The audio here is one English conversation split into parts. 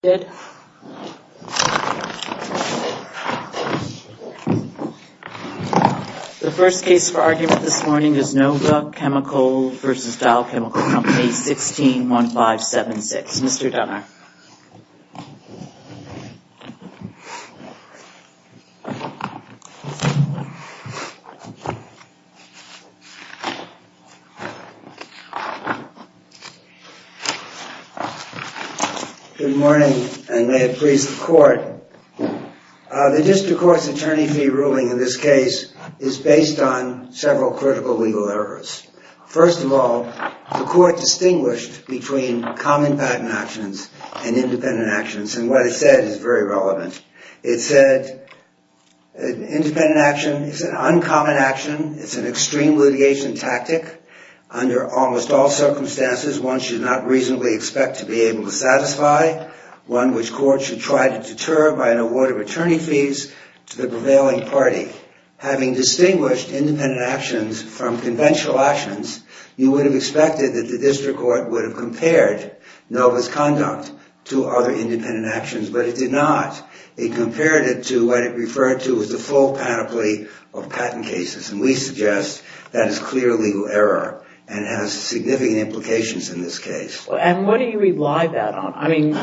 161576. Mr. Dunner. Good morning, and may it please the court. The district court's attorney fee ruling in this case is based on several critical legal errors. First of all, the court distinguished between common patent actions and independent actions, and what it said is very relevant. It said independent action is an uncommon action. It's an extreme litigation tactic. Under almost all circumstances, one should not reasonably expect to be able to satisfy. One which courts should try to deter by an award of attorney fees to the prevailing party. Having distinguished independent actions from conventional actions, you would have expected that the district court would have compared NOVA's conduct to other independent actions, but it did not. It compared it to what it referred to as the full panoply of patent cases, and we suggest that is clear legal error and has significant implications in this case. And what do you rely that on? I mean,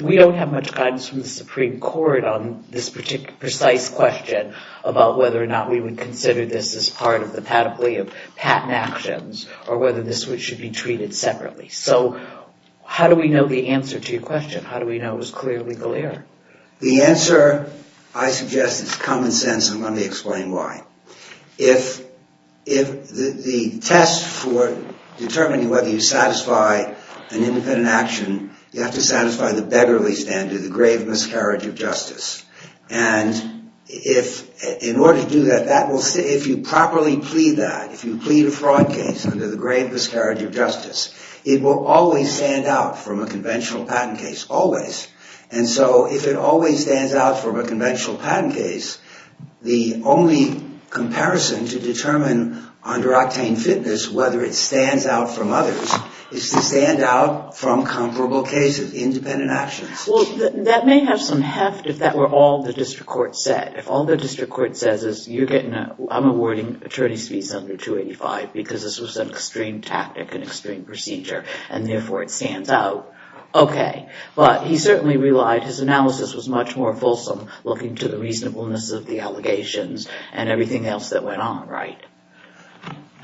we don't have much guidance from the Supreme Court on this particular precise question about whether or not we would consider this as part of the panoply of patent actions or whether this should be treated separately. So how do we know the answer to your question? How do we know it was clear legal error? The answer, I suggest, is common sense, and let me explain why. If the test for determining whether you satisfy an independent action, you have to satisfy the beggarly standard, the grave miscarriage of justice. And in order to do that, if you properly plead that, if you plead a fraud case under the grave miscarriage of justice, it will always stand out from a conventional patent case, always. And so if it always stands out from a conventional patent case, the only comparison to determine under octane fitness whether it stands out from others is to stand out from comparable cases, independent actions. Well, that may have some heft if that were all the district court said. If all the district court says is, I'm awarding attorney's fees under 285 because this was an extreme tactic, an extreme procedure, and therefore it stands out, okay. But he certainly relied, his analysis was much more fulsome looking to the reasonableness of the allegations and everything else that went on, right?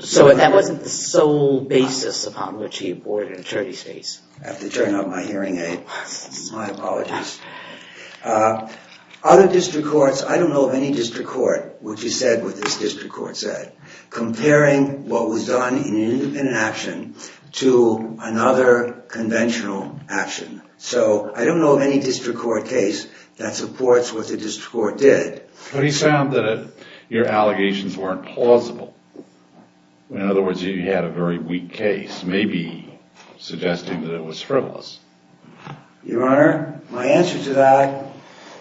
So that wasn't the sole basis upon which he awarded attorney's fees. I have to turn off my hearing aid. My apologies. Other district courts, I don't know of any district court which he said what this district court said, comparing what was done in an independent action to another conventional action. So I don't know of any district court case that supports what the district court did. But he found that your allegations weren't plausible. In other words, you had a very weak case, maybe suggesting that it was frivolous. Your Honor, my answer to that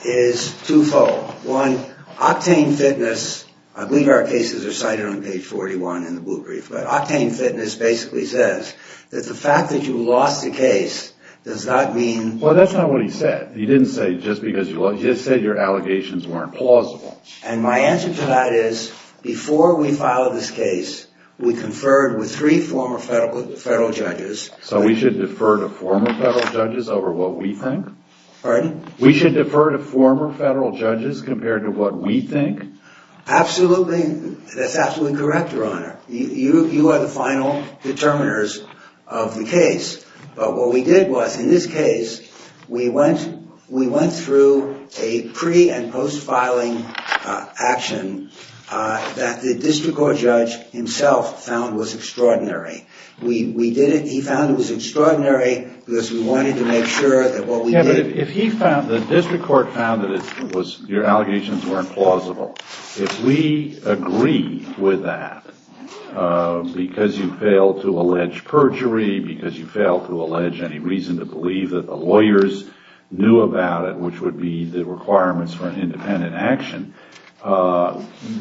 is twofold. One, octane fitness, I believe our cases are cited on page 41 in the blue brief, but octane fitness basically says that the fact that you lost the case does not mean... Well, that's not what he said. He didn't say just because you lost, he just said your allegations weren't plausible. And my answer to that is, before we filed this case, we conferred with three former federal judges... So we should defer to former federal judges over what we think? Pardon? We should defer to former federal judges compared to what we think? Absolutely. That's absolutely correct, Your Honor. You are the final determiners of the case. But what we did was, in this case, we went through a pre- and post-filing action that the district court judge himself found was extraordinary. He found it was extraordinary because we wanted to make sure that what we did... The district court found that your allegations weren't plausible. If we agree with that, because you failed to allege perjury, because you failed to allege any reason to believe that the lawyers knew about it, which would be the requirements for an independent action,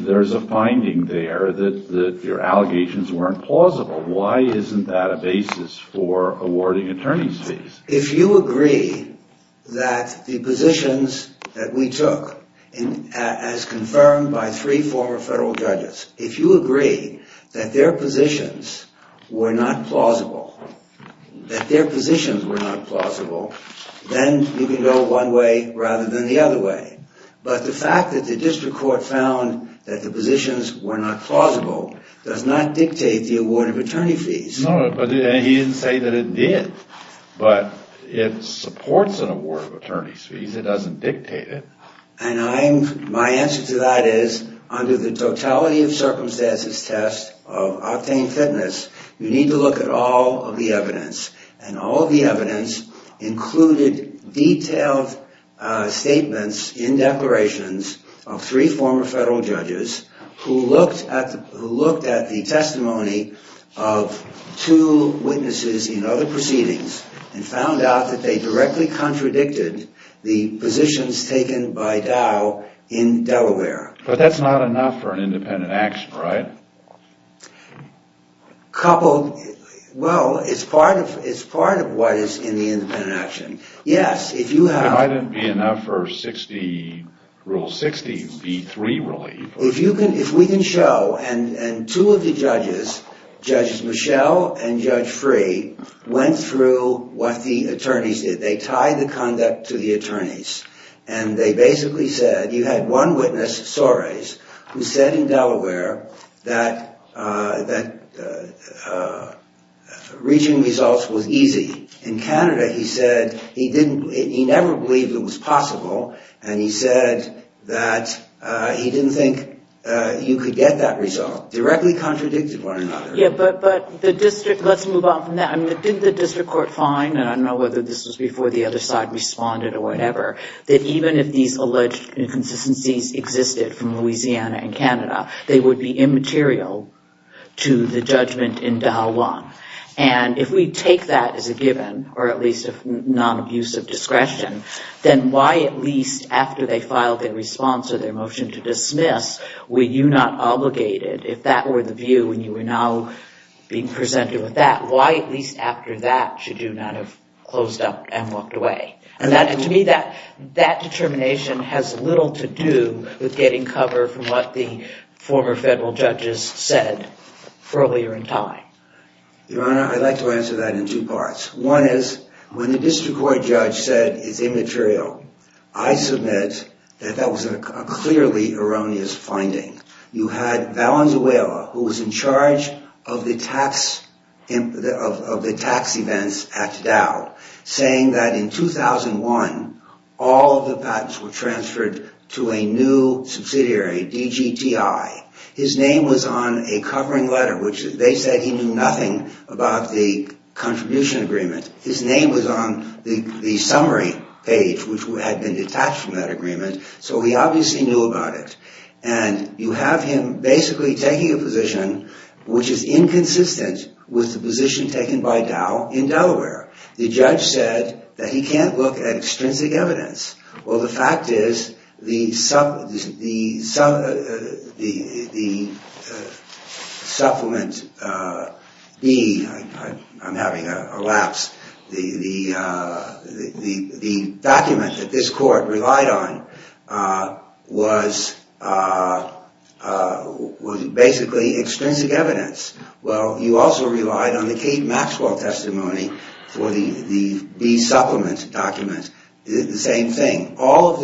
there's a finding there that your allegations weren't plausible. Why isn't that a basis for awarding attorney's fees? If you agree that the positions that we took, as confirmed by three former federal judges, if you agree that their positions were not plausible, that their positions were not plausible, then you can go one way rather than the other way. But the fact that the district court found that the positions were not plausible does not dictate the award of attorney fees. No, but he didn't say that it did. But it supports an award of attorney's fees. It doesn't dictate it. And my answer to that is, under the totality of circumstances test of Octane Fitness, you need to look at all of the evidence. And all the evidence included detailed statements in declarations of three former federal judges who looked at the testimony of two witnesses in other proceedings and found out that they directly contradicted the positions taken by Dow in Delaware. But that's not enough for an independent action, right? Coupled, well, it's part of what is in the independent action. Yes, if you have... It mightn't be enough for 60, rule 60, B3 relief. If we can show, and two of the judges, Judge Michelle and Judge Free, went through what the attorneys did. They tied the conduct to the attorneys. And they basically said, you had one witness, Soares, who said in Delaware that reaching results was easy. In Canada, he said he didn't, he never believed it was possible. And he said that he didn't think you could get that result. Directly contradicted one another. Yeah, but the district, let's move on from that. I mean, didn't the district court find, and I don't know whether this was before the other side responded or whatever, that even if these alleged inconsistencies existed from Louisiana and Canada, they would be immaterial to the judgment in Delaware. And if we take that as a given, or at least a non-abusive discretion, then why at least after they filed their response or their motion to dismiss, were you not obligated, if that were the view and you were now being presented with that, why at least after that should you not have closed up and walked away? To me, that determination has little to do with getting cover for what the former federal judges said earlier in time. Your Honor, I'd like to answer that in two parts. One is, when the district court judge said it's immaterial, I submit that that was a clearly erroneous finding. You had Valenzuela, who was in charge of the tax events at Dow, saying that in 2001, all of the patents were transferred to a new subsidiary, DGTI. His name was on a covering letter, which they said he knew nothing about the contribution agreement. His name was on the summary page, which had been detached from that agreement, so he obviously knew about it. And you have him basically taking a position which is inconsistent with the position taken by Dow in Delaware. The judge said that he can't look at extrinsic evidence. Well, the fact is, the supplement B, I'm having a lapse, the document that this court relied on was basically extrinsic evidence. Well, you also relied on the Kate Maxwell testimony for the B supplement document. Is it the same thing? All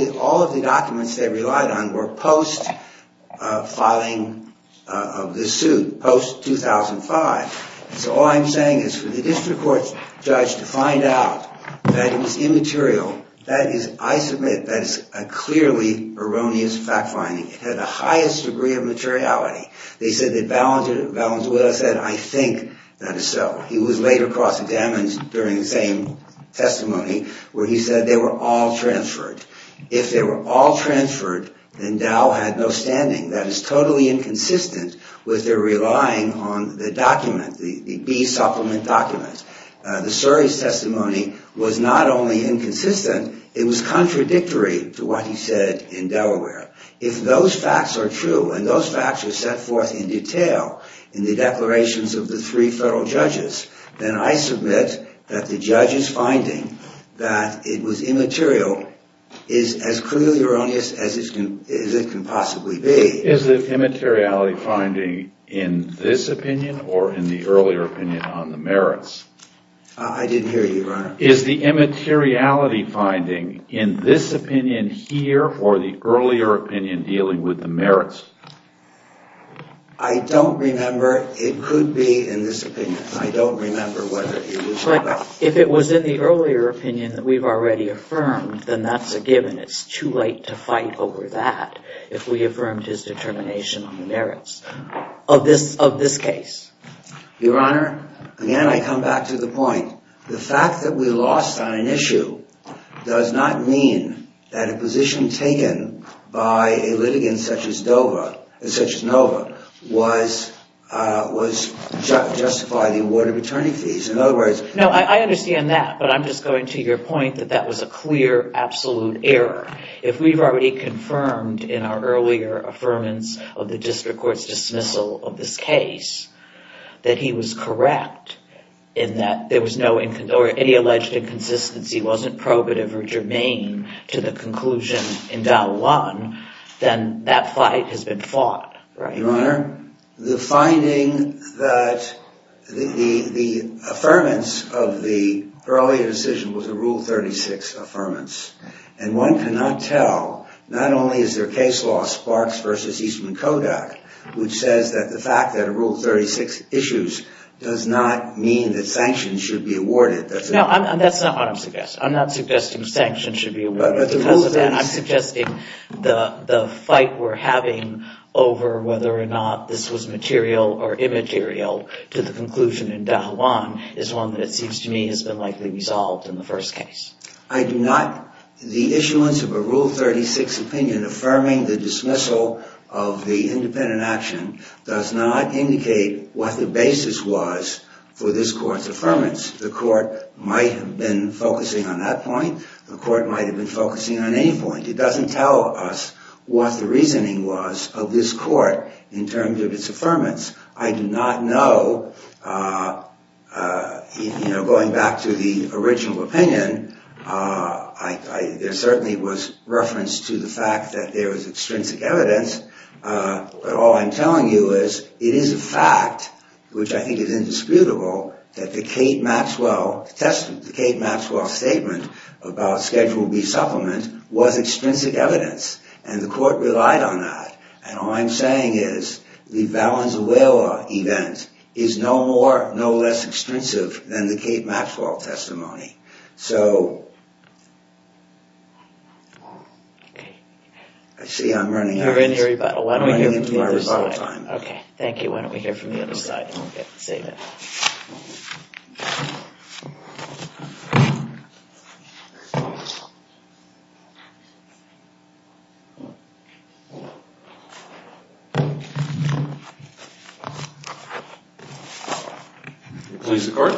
of the documents they relied on were post-filing of the suit, post-2005. So all I'm saying is, for the district court judge to find out that it was immaterial, that is, I submit, that is a clearly erroneous fact-finding. It had the highest degree of materiality. They said that Valenzuela said, I think that is so. He was later cross-examined during the same testimony, where he said they were all transferred. If they were all transferred, then Dow had no standing. That is totally inconsistent with their relying on the document, the B supplement document. The Surrey's testimony was not only inconsistent, it was contradictory to what he said in Delaware. If those facts are true, and those facts are set forth in detail in the declarations of the three federal judges, then I submit that the judge's finding that it was immaterial is as clearly erroneous as it can possibly be. Is the immateriality finding in this opinion or in the earlier opinion on the merits? I didn't hear you, Your Honor. Is the immateriality finding in this opinion here or the earlier opinion dealing with the merits? I don't remember. It could be in this opinion. I don't remember whether it was or not. If it was in the earlier opinion that we've already affirmed, then that's a given. It's too late to fight over that if we affirmed his determination on the merits of this case. Your Honor, again, I come back to the point. The fact that we lost on an issue does not mean that a position taken by a litigant such as Dover, such as Nova, was justified. No, I understand that, but I'm just going to your point that that was a clear, absolute error. If we've already confirmed in our earlier affirmance of the district court's dismissal of this case that he was correct in that there was no, or any alleged inconsistency wasn't probative or germane to the conclusion in Dial 1, then that fight has been fought. Your Honor, the finding that the affirmance of the earlier decision was a Rule 36 affirmance, and one cannot tell, not only is there case law sparks versus Eastman Kodak, which says that the fact that a Rule 36 issues does not mean that sanctions should be awarded. No, that's not what I'm suggesting. I'm not suggesting sanctions should be awarded because of that. I'm suggesting the fight we're having over whether or not this was material or immaterial to the conclusion in Dial 1 is one that seems to me has been likely resolved in the first case. I do not, the issuance of a Rule 36 opinion affirming the dismissal of the independent action does not indicate what the basis was for this court's affirmance. The court might have been focusing on that point. The court might have been focusing on any point. It doesn't tell us what the reasoning was of this court in terms of its affirmance. I do not know. Going back to the original opinion, there certainly was reference to the fact that there was extrinsic evidence. But all I'm telling you is it is a fact, which I think is indisputable, that the Kate Maxwell statement about Schedule B supplement was extrinsic evidence. And the court relied on that. And all I'm saying is the Valenzuela event is no more, no less extrinsic than the Kate Maxwell testimony. So, I see I'm running into my rebuttal time. Thank you. Why don't we hear from the other side. Please, the court.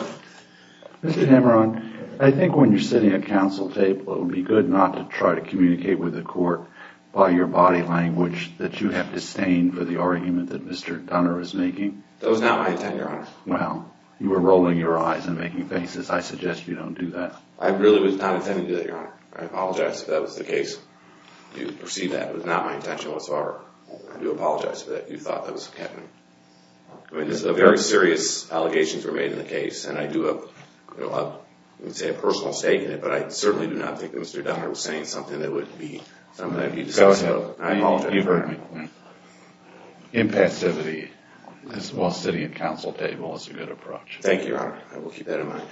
Mr. Hammeron, I think when you're sitting at counsel table, it would be good not to try to communicate with the court by your body language that you have disdained for the argument that Mr. Dunner is making. That was not my intent, Your Honor. Well, you were rolling your eyes and making faces. I suggest you don't do that. I really was not intending to do that, Your Honor. I apologize if that was the case. You perceive that. It was not my intention whatsoever. I do apologize for that. You thought that was the case. I mean, very serious allegations were made in the case, and I do have, I would say, a personal stake in it, but I certainly do not think that Mr. Dunner was saying something that would be something that would be decisive. Impassivity, while sitting at counsel table, is a good approach. Thank you, Your Honor. I will keep that in mind.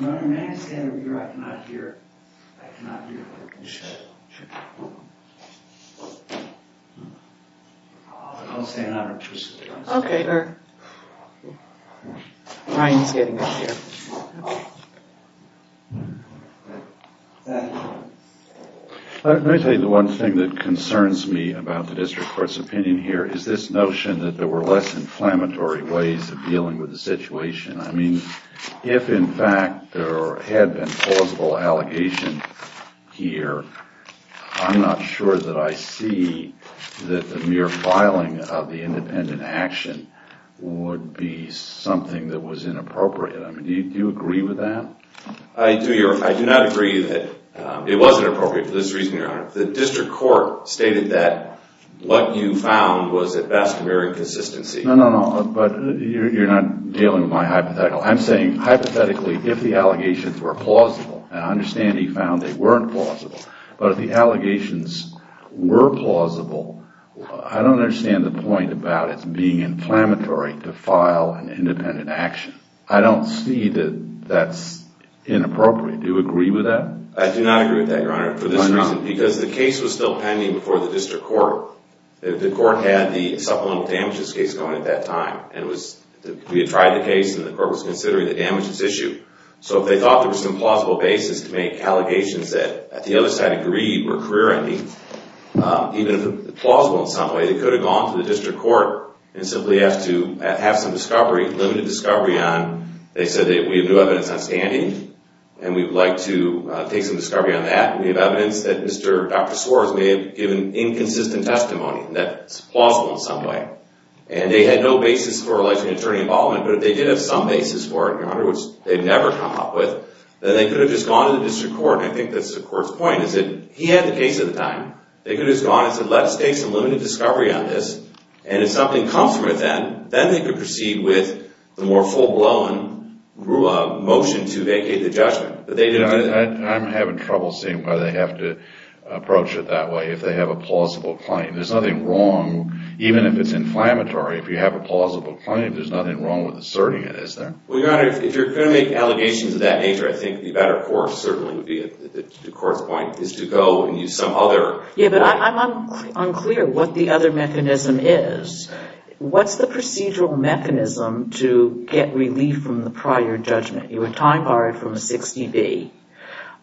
Your Honor, may I say an interview? I cannot hear. I cannot hear. I'll say an honorific. Okay, Your Honor. Ryan's getting up here. Let me tell you the one thing that concerns me about the district court's opinion here is this notion that there were less inflammatory ways of dealing with the situation. I mean, if, in fact, there had been plausible allegation here, I'm not sure that I see that the mere filing of the independent action would be something that was inappropriate. I mean, do you agree with that? I do not agree that it wasn't appropriate for this reason, Your Honor. The district court stated that what you found was, at best, mere inconsistency. No, no, no, but you're not dealing with my hypothetical. I'm saying, hypothetically, if the allegations were plausible, and I understand he found they weren't plausible, but if the allegations were plausible, I don't understand the point about it being inflammatory to file an independent action. I don't see that that's inappropriate. Do you agree with that? I do not agree with that, Your Honor, for this reason. Why not? Because the case was still pending before the district court. The court had the supplemental damages case going at that time, and we had tried the case, and the court was considering the damages issue. So if they thought there was some plausible basis to make allegations that, at the other side of greed, were career-ending, even if plausible in some way, they could have gone to the district court and simply asked to have some discovery, limited discovery on. They said, we have new evidence outstanding, and we'd like to take some discovery on that. We have evidence that Dr. Swartz may have given inconsistent testimony that's plausible in some way. And they had no basis for election attorney involvement, but if they did have some basis for it, Your Honor, which they've never come up with, then they could have just gone to the district court, and I think that's the court's point, is that he had the case at the time. They could have just gone and said, let's take some limited discovery on this, and if something comes from it then, then they could proceed with the more full-blown motion to vacate the judgment. But they didn't do that. I'm having trouble seeing why they have to approach it that way if they have a plausible claim. There's nothing wrong, even if it's inflammatory, if you have a plausible claim. There's nothing wrong with asserting it, is there? Well, Your Honor, if you're going to make allegations of that nature, I think the better course certainly would be, to the court's point, is to go and use some other way. Yeah, but I'm unclear what the other mechanism is. What's the procedural mechanism to get relief from the prior judgment? You were time-barred from a 60B.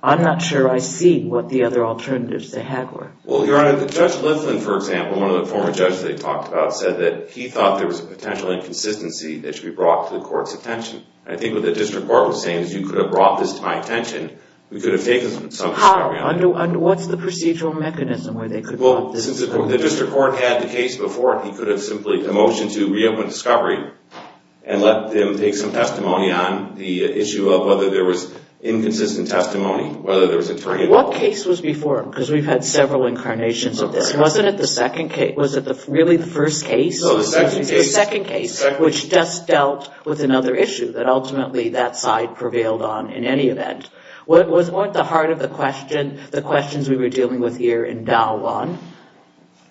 I'm not sure I see what the other alternatives they had were. Well, Your Honor, Judge Liflin, for example, one of the former judges they talked about, said that he thought there was a potential inconsistency that should be brought to the court's attention. I think what the district court was saying is, you could have brought this to my attention. How? What's the procedural mechanism where they could have brought this to my attention? Well, since the district court had the case before, he could have simply motioned to reopen discovery and let them take some testimony on the issue of whether there was inconsistent testimony, whether there was attorney involved. What case was before him? Because we've had several incarnations of this. Wasn't it the second case? Was it really the first case? No, the second case. The second case. Which just dealt with another issue that ultimately that side prevailed on in any event. Wasn't the heart of the question the questions we were dealing with here in Dow 1?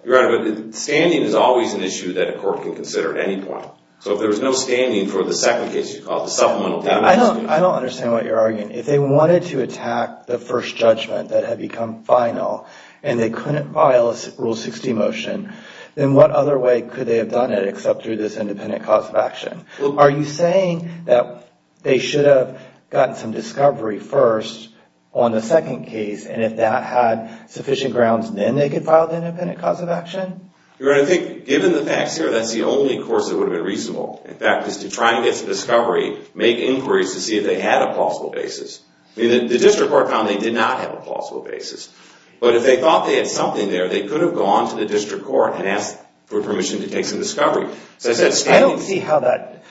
Your Honor, standing is always an issue that a court can consider at any point. So if there's no standing for the second case you called, the supplemental testimony. I don't understand what you're arguing. If they wanted to attack the first judgment that had become final and they couldn't file a Rule 60 motion, then what other way could they have done it except through this independent cause of action? Are you saying that they should have gotten some discovery first on the second case and if that had sufficient grounds then they could file the independent cause of action? Your Honor, I think given the facts here, that's the only course that would have been reasonable. In fact, is to try and get some discovery, make inquiries to see if they had a plausible basis. The district court found they did not have a plausible basis. But if they thought they had something there, they could have gone to the district court and asked for permission to take some discovery. I don't see how that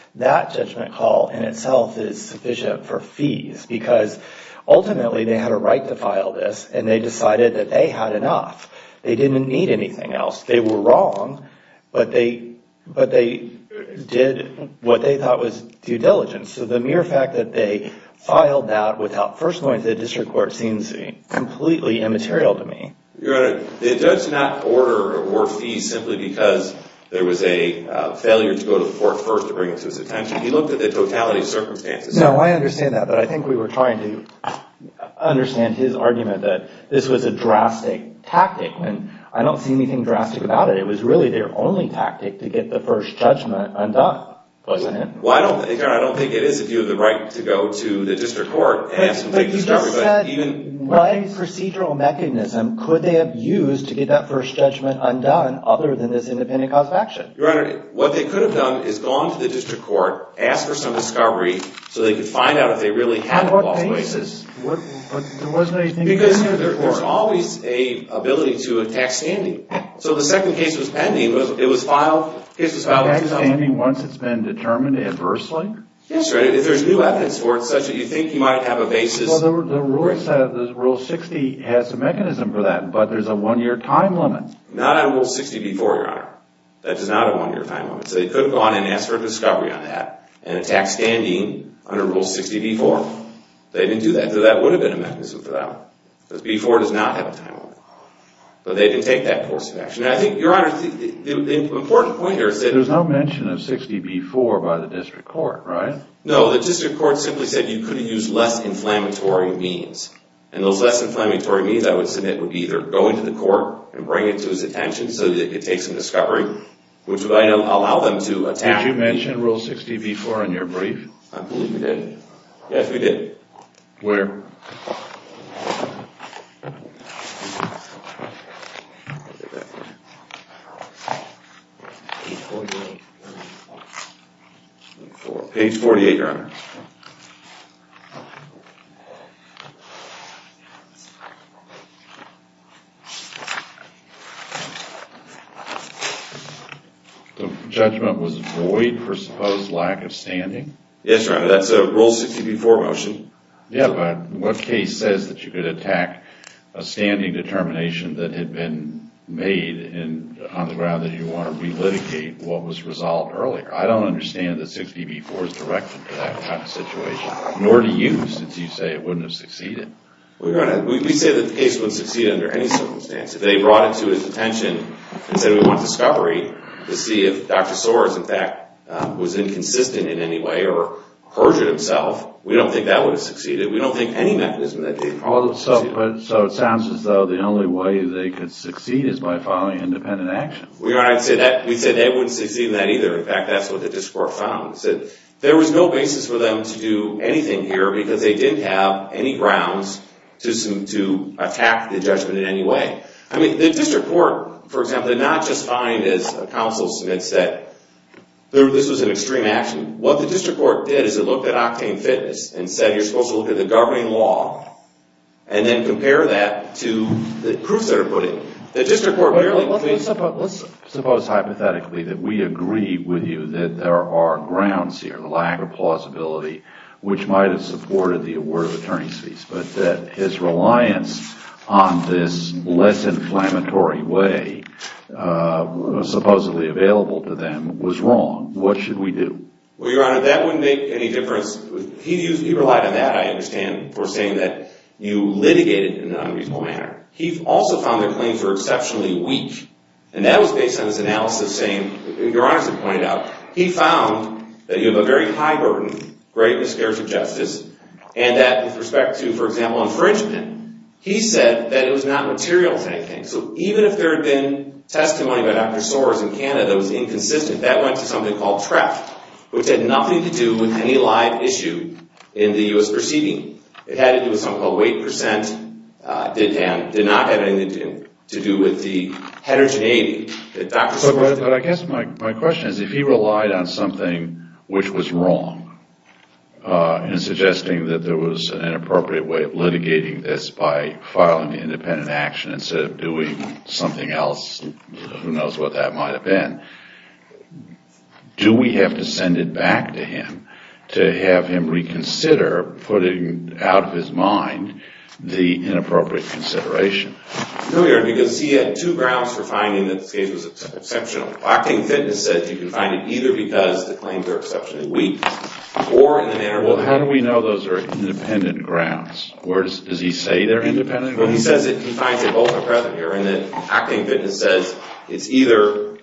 judgment call in itself is sufficient for fees because ultimately they had a right to file this and they decided that they had enough. They didn't need anything else. They were wrong, but they did what they thought was due diligence. So the mere fact that they filed that without first going to the district court seems completely immaterial to me. Your Honor, the judge did not order or award fees simply because there was a failure to go to the court first to bring it to his attention. He looked at the totality of circumstances. No, I understand that, but I think we were trying to understand his argument that this was a drastic tactic and I don't see anything drastic about it. It was really their only tactic to get the first judgment undone, wasn't it? Well, I don't think it is if you have the right to go to the district court and ask for some discovery. But you just said what procedural mechanism could they have used to get that first judgment undone other than this independent cause of action? Your Honor, what they could have done is gone to the district court, asked for some discovery so they could find out if they really had a false basis. On what basis? There wasn't anything in the court. Because there's always an ability to attack standing. So the second case was pending. Attack standing once it's been determined adversely? Yes, if there's new evidence for it such that you think you might have a basis. The Rule 60 has a mechanism for that, but there's a one-year time limit. Not under Rule 60b-4, Your Honor. That does not have a one-year time limit. So they could have gone and asked for a discovery on that and attacked standing under Rule 60b-4. They didn't do that, so that would have been a mechanism for that one. Because b-4 does not have a time limit. But they didn't take that course of action. I think, Your Honor, the important point here is that— There's no mention of 60b-4 by the district court, right? No, the district court simply said you could have used less inflammatory means. And those less inflammatory means, I would submit, would be either going to the court and bring it to his attention so that he could take some discovery, which would allow them to attack— Did you mention Rule 60b-4 in your brief? I believe we did. Yes, we did. Where? Page 48. Page 48, Your Honor. The judgment was void for supposed lack of standing? Yes, Your Honor. That's a Rule 60b-4 motion. Yeah, but what case says that you could attack a standing determination that had been made on the ground that you want to relitigate what was resolved earlier? I don't understand that 60b-4 is directed for that kind of situation, nor do you, since you say it wouldn't have succeeded. We say that the case wouldn't succeed under any circumstance. If they brought it to his attention and said, we want discovery to see if Dr. Soares, in fact, was inconsistent in any way or perjured himself, we don't think that would have succeeded. We don't think any mechanism— So it sounds as though the only way they could succeed is by filing independent action. We said they wouldn't succeed in that either. In fact, that's what the district court found. It said there was no basis for them to do anything here because they didn't have any grounds to attack the judgment in any way. I mean, the district court, for example, did not just find, as counsel Smith said, this was an extreme action. What the district court did is it looked at octane fitness and said you're supposed to look at the governing law and then compare that to the proofs that are put in. The district court— Let's suppose hypothetically that we agree with you that there are grounds here, the lack of plausibility, which might have supported the award of attorney's fees, but that his reliance on this less inflammatory way supposedly available to them was wrong. What should we do? Well, Your Honor, that wouldn't make any difference. He relied on that, I understand, for saying that you litigated in an unreasonable manner. He also found their claims were exceptionally weak, and that was based on his analysis saying— Your Honor should point it out. He found that you have a very high burden, great miscarriage of justice, and that with respect to, for example, infringement, he said that it was not material to anything. So even if there had been testimony by Dr. Soares in Canada that was inconsistent, that went to something called TREP, which had nothing to do with any live issue in the U.S. proceeding. It had to do with something called weight percent. It did not have anything to do with the heterogeneity that Dr. Soares— But I guess my question is, if he relied on something which was wrong in suggesting that there was an inappropriate way of litigating this by filing the independent action instead of doing something else, who knows what that might have been, do we have to send it back to him to have him reconsider putting out of his mind the inappropriate consideration? No, Your Honor, because he had two grounds for finding that the case was exceptional. Acting Fitness said you can find it either because the claims are exceptionally weak or in the manner— Well, how do we know those are independent grounds? Does he say they're independent? Well, he says that he finds that both are present here, and that Acting Fitness says it's either—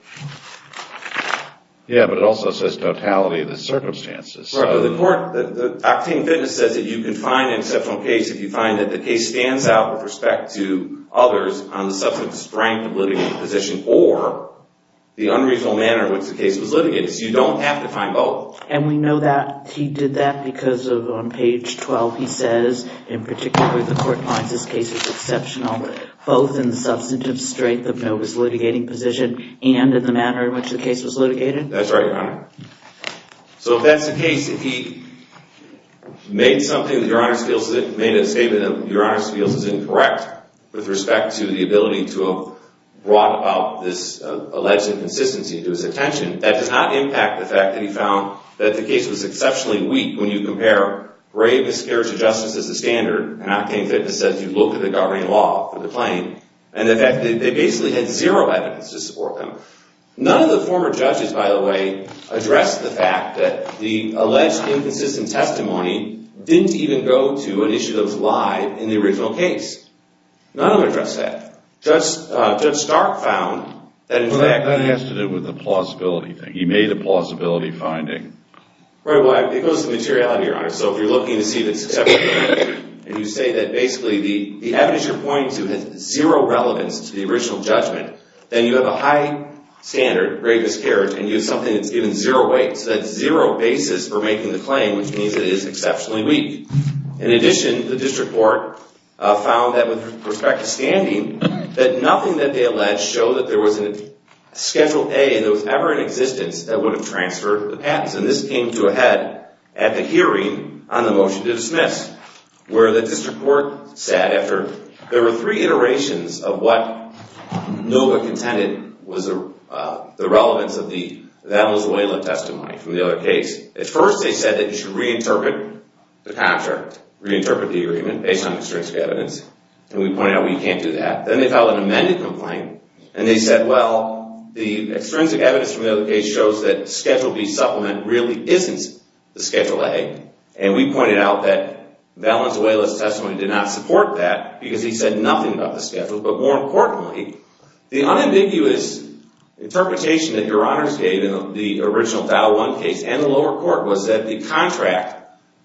Yeah, but it also says totality of the circumstances. Right, but the court—Acting Fitness says that you can find an exceptional case if you find that the case stands out with respect to others on the substantive strength of litigating the position or the unreasonable manner in which the case was litigated. So you don't have to find both. And we know that he did that because on page 12 he says, in particular, the court finds this case is exceptional both in the substantive strength of Nova's litigating position and in the manner in which the case was litigated? That's right, Your Honor. So if that's the case, if he made something that Your Honor feels— made a statement that Your Honor feels is incorrect with respect to the ability to have brought about this alleged inconsistency to his attention, that does not impact the fact that he found that the case was exceptionally weak when you compare grave miscarriage of justice as the standard, and Acting Fitness says you look at the governing law for the claim, and the fact that they basically had zero evidence to support them. None of the former judges, by the way, addressed the fact that the alleged inconsistent testimony didn't even go to initiatives live in the original case. None of them addressed that. Judge Stark found that in fact— Well, that has to do with the plausibility thing. He made a plausibility finding. Right, well, it goes to materiality, Your Honor. So if you're looking to see if it's exceptionally weak, and you say that basically the evidence you're pointing to has zero relevance to the original judgment, then you have a high standard, grave miscarriage, and you have something that's given zero weight. So that's zero basis for making the claim, which means it is exceptionally weak. In addition, the district court found that with respect to standing, that nothing that they alleged showed that there was a Schedule A that was ever in existence that would have transferred the patents, and this came to a head at the hearing on the motion to dismiss, where the district court said after there were three iterations of what Nova contended was the relevance of the Venezuela testimony from the other case. At first, they said that you should reinterpret the contract, reinterpret the agreement based on extrinsic evidence, and we pointed out we can't do that. Then they filed an amended complaint, and they said, well, the extrinsic evidence from the other case shows that Schedule B supplement really isn't the Schedule A, and we pointed out that Venezuela's testimony did not support that because he said nothing about the Schedule. But more importantly, the unambiguous interpretation that Your Honors gave in the original Dial 1 case and the lower court was that the contract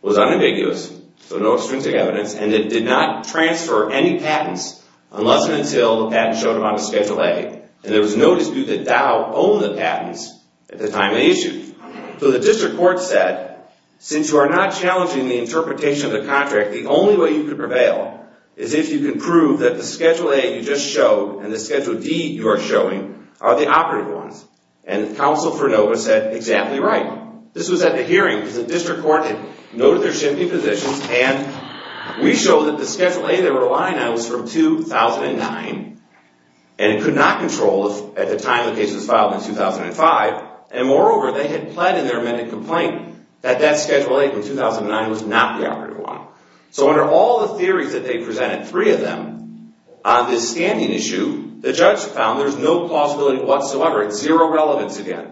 was unambiguous, so no extrinsic evidence, and it did not transfer any patents unless and until the patent showed up on the Schedule A, and there was no dispute that Dow owned the patents at the time they issued. So the district court said, since you are not challenging the interpretation of the contract, the only way you can prevail is if you can prove that the Schedule A you just showed and the Schedule D you are showing are the operative ones, and the counsel for Nova said, exactly right. This was at the hearing because the district court had noted their shifting positions, and we showed that the Schedule A they were relying on was from 2009 and could not control at the time the case was filed in 2005, and moreover, they had pled in their amended complaint that that Schedule A from 2009 was not the operative one. So under all the theories that they presented, three of them, on this standing issue, the judge found there's no plausibility whatsoever. It's zero relevance again.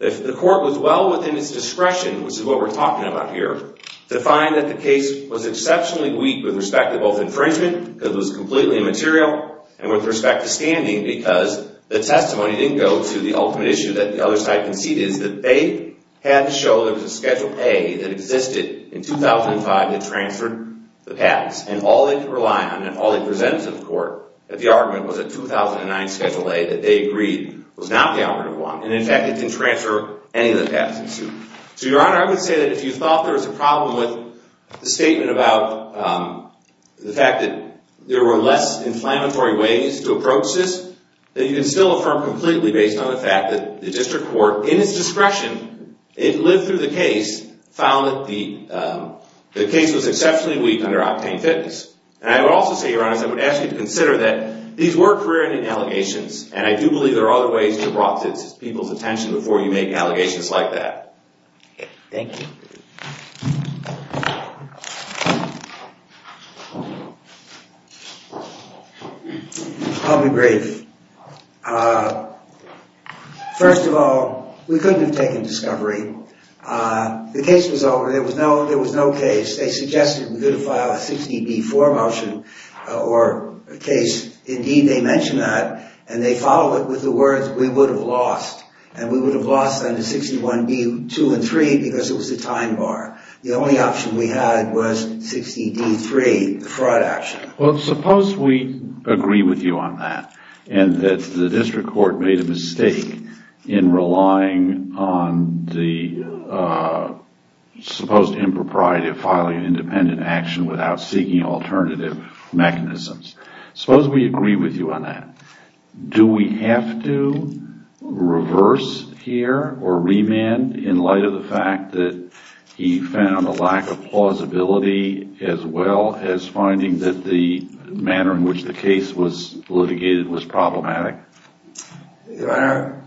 The court was well within its discretion, which is what we're talking about here, to find that the case was exceptionally weak with respect to both infringement, because it was completely immaterial, and with respect to standing because the testimony didn't go to the ultimate issue that the other side conceded is that they had to show there was a Schedule A that existed in 2005 that transferred the patents, and all they could rely on and all they presented to the court that the argument was a 2009 Schedule A that they agreed was not the operative one, and in fact, it didn't transfer any of the patents. So, Your Honor, I would say that if you thought there was a problem with the statement about the fact that there were less inflammatory ways to approach this, that you can still affirm completely based on the fact that the district court, in its discretion, it lived through the case, found that the case was exceptionally weak under octane fitness. And I would also say, Your Honor, I would ask you to consider that these were career-ending allegations, and I do believe there are other ways to draw people's attention before you make allegations like that. Thank you. I'll be brief. First of all, we couldn't have taken discovery. The case was over. There was no case. They suggested we could have filed a 60-B-4 motion or case. Indeed, they mentioned that, and they followed it with the words we would have lost, and we would have lost them to 61-B-2 and 3 because it was a time bar. The only option we had was 60-D-3, the fraud action. Well, suppose we agree with you on that and that the district court made a mistake in relying on the supposed impropriety of filing an independent action without seeking alternative mechanisms. Suppose we agree with you on that. Do we have to reverse here or remand in light of the fact that he found a lack of plausibility as well as finding that the manner in which the case was litigated was problematic? Your Honor,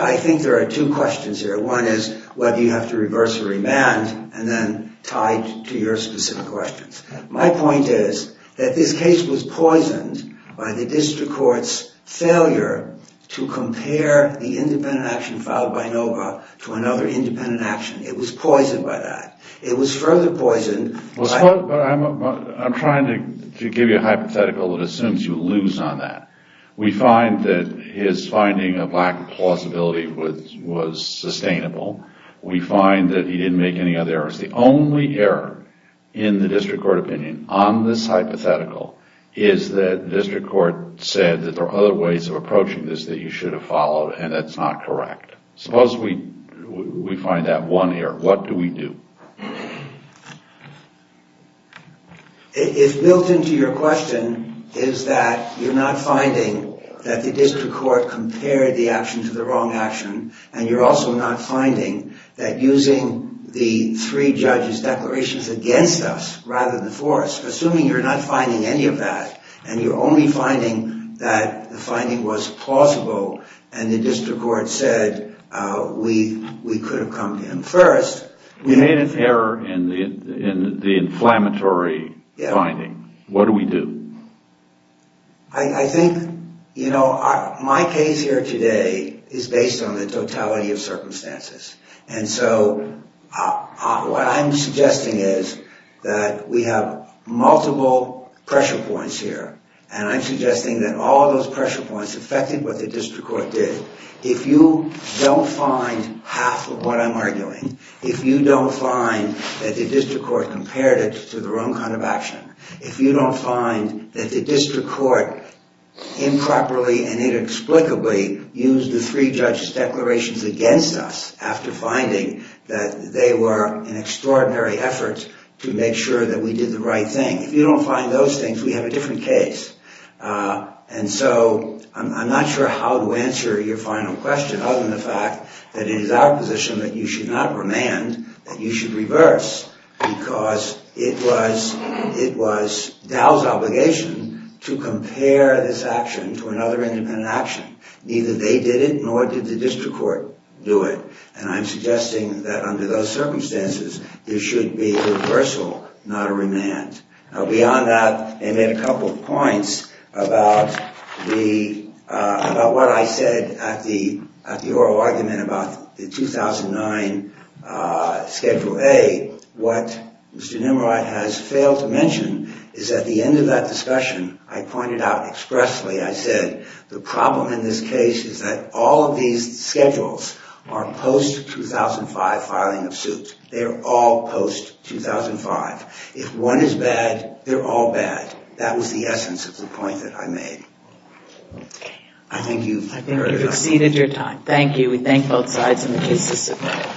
I think there are two questions here. One is whether you have to reverse or remand, and then tied to your specific questions. My point is that this case was poisoned by the district court's failure to compare the independent action filed by Nova to another independent action. It was poisoned by that. It was further poisoned. I'm trying to give you a hypothetical that assumes you lose on that. We find that his finding of lack of plausibility was sustainable. We find that he didn't make any other errors. The only error in the district court opinion on this hypothetical is that the district court said that there are other ways of approaching this that you should have followed, and that's not correct. Suppose we find that one error. What do we do? If built into your question is that you're not finding that the district court compared the action to the wrong action, and you're also not finding that using the three judges' declarations against us rather than for us, assuming you're not finding any of that, and you're only finding that the finding was plausible and the district court said we could have come to him first. You made an error in the inflammatory finding. What do we do? I think, you know, my case here today is based on the totality of circumstances, and so what I'm suggesting is that we have multiple pressure points here, and I'm suggesting that all those pressure points affected what the district court did. If you don't find half of what I'm arguing, if you don't find that the district court compared it to the wrong kind of action, if you don't find that the district court improperly and inexplicably used the three judges' declarations against us after finding that they were an extraordinary effort to make sure that we did the right thing, if you don't find those things, we have a different case. And so I'm not sure how to answer your final question other than the fact that it is our position that you should not remand, that you should reverse, because it was Dow's obligation to compare this action to another independent action. Neither they did it, nor did the district court do it, and I'm suggesting that under those circumstances, there should be a reversal, not a remand. Now beyond that, they made a couple of points about what I said at the oral argument about the 2009 Schedule A. What Mr. Nimroy has failed to mention is at the end of that discussion, I pointed out expressly, I said, the problem in this case is that all of these schedules are post-2005 filing of suit. They are all post-2005. If one is bad, they're all bad. That was the essence of the point that I made. I think you've exceeded your time. Thank you. We thank both sides and the case is submitted.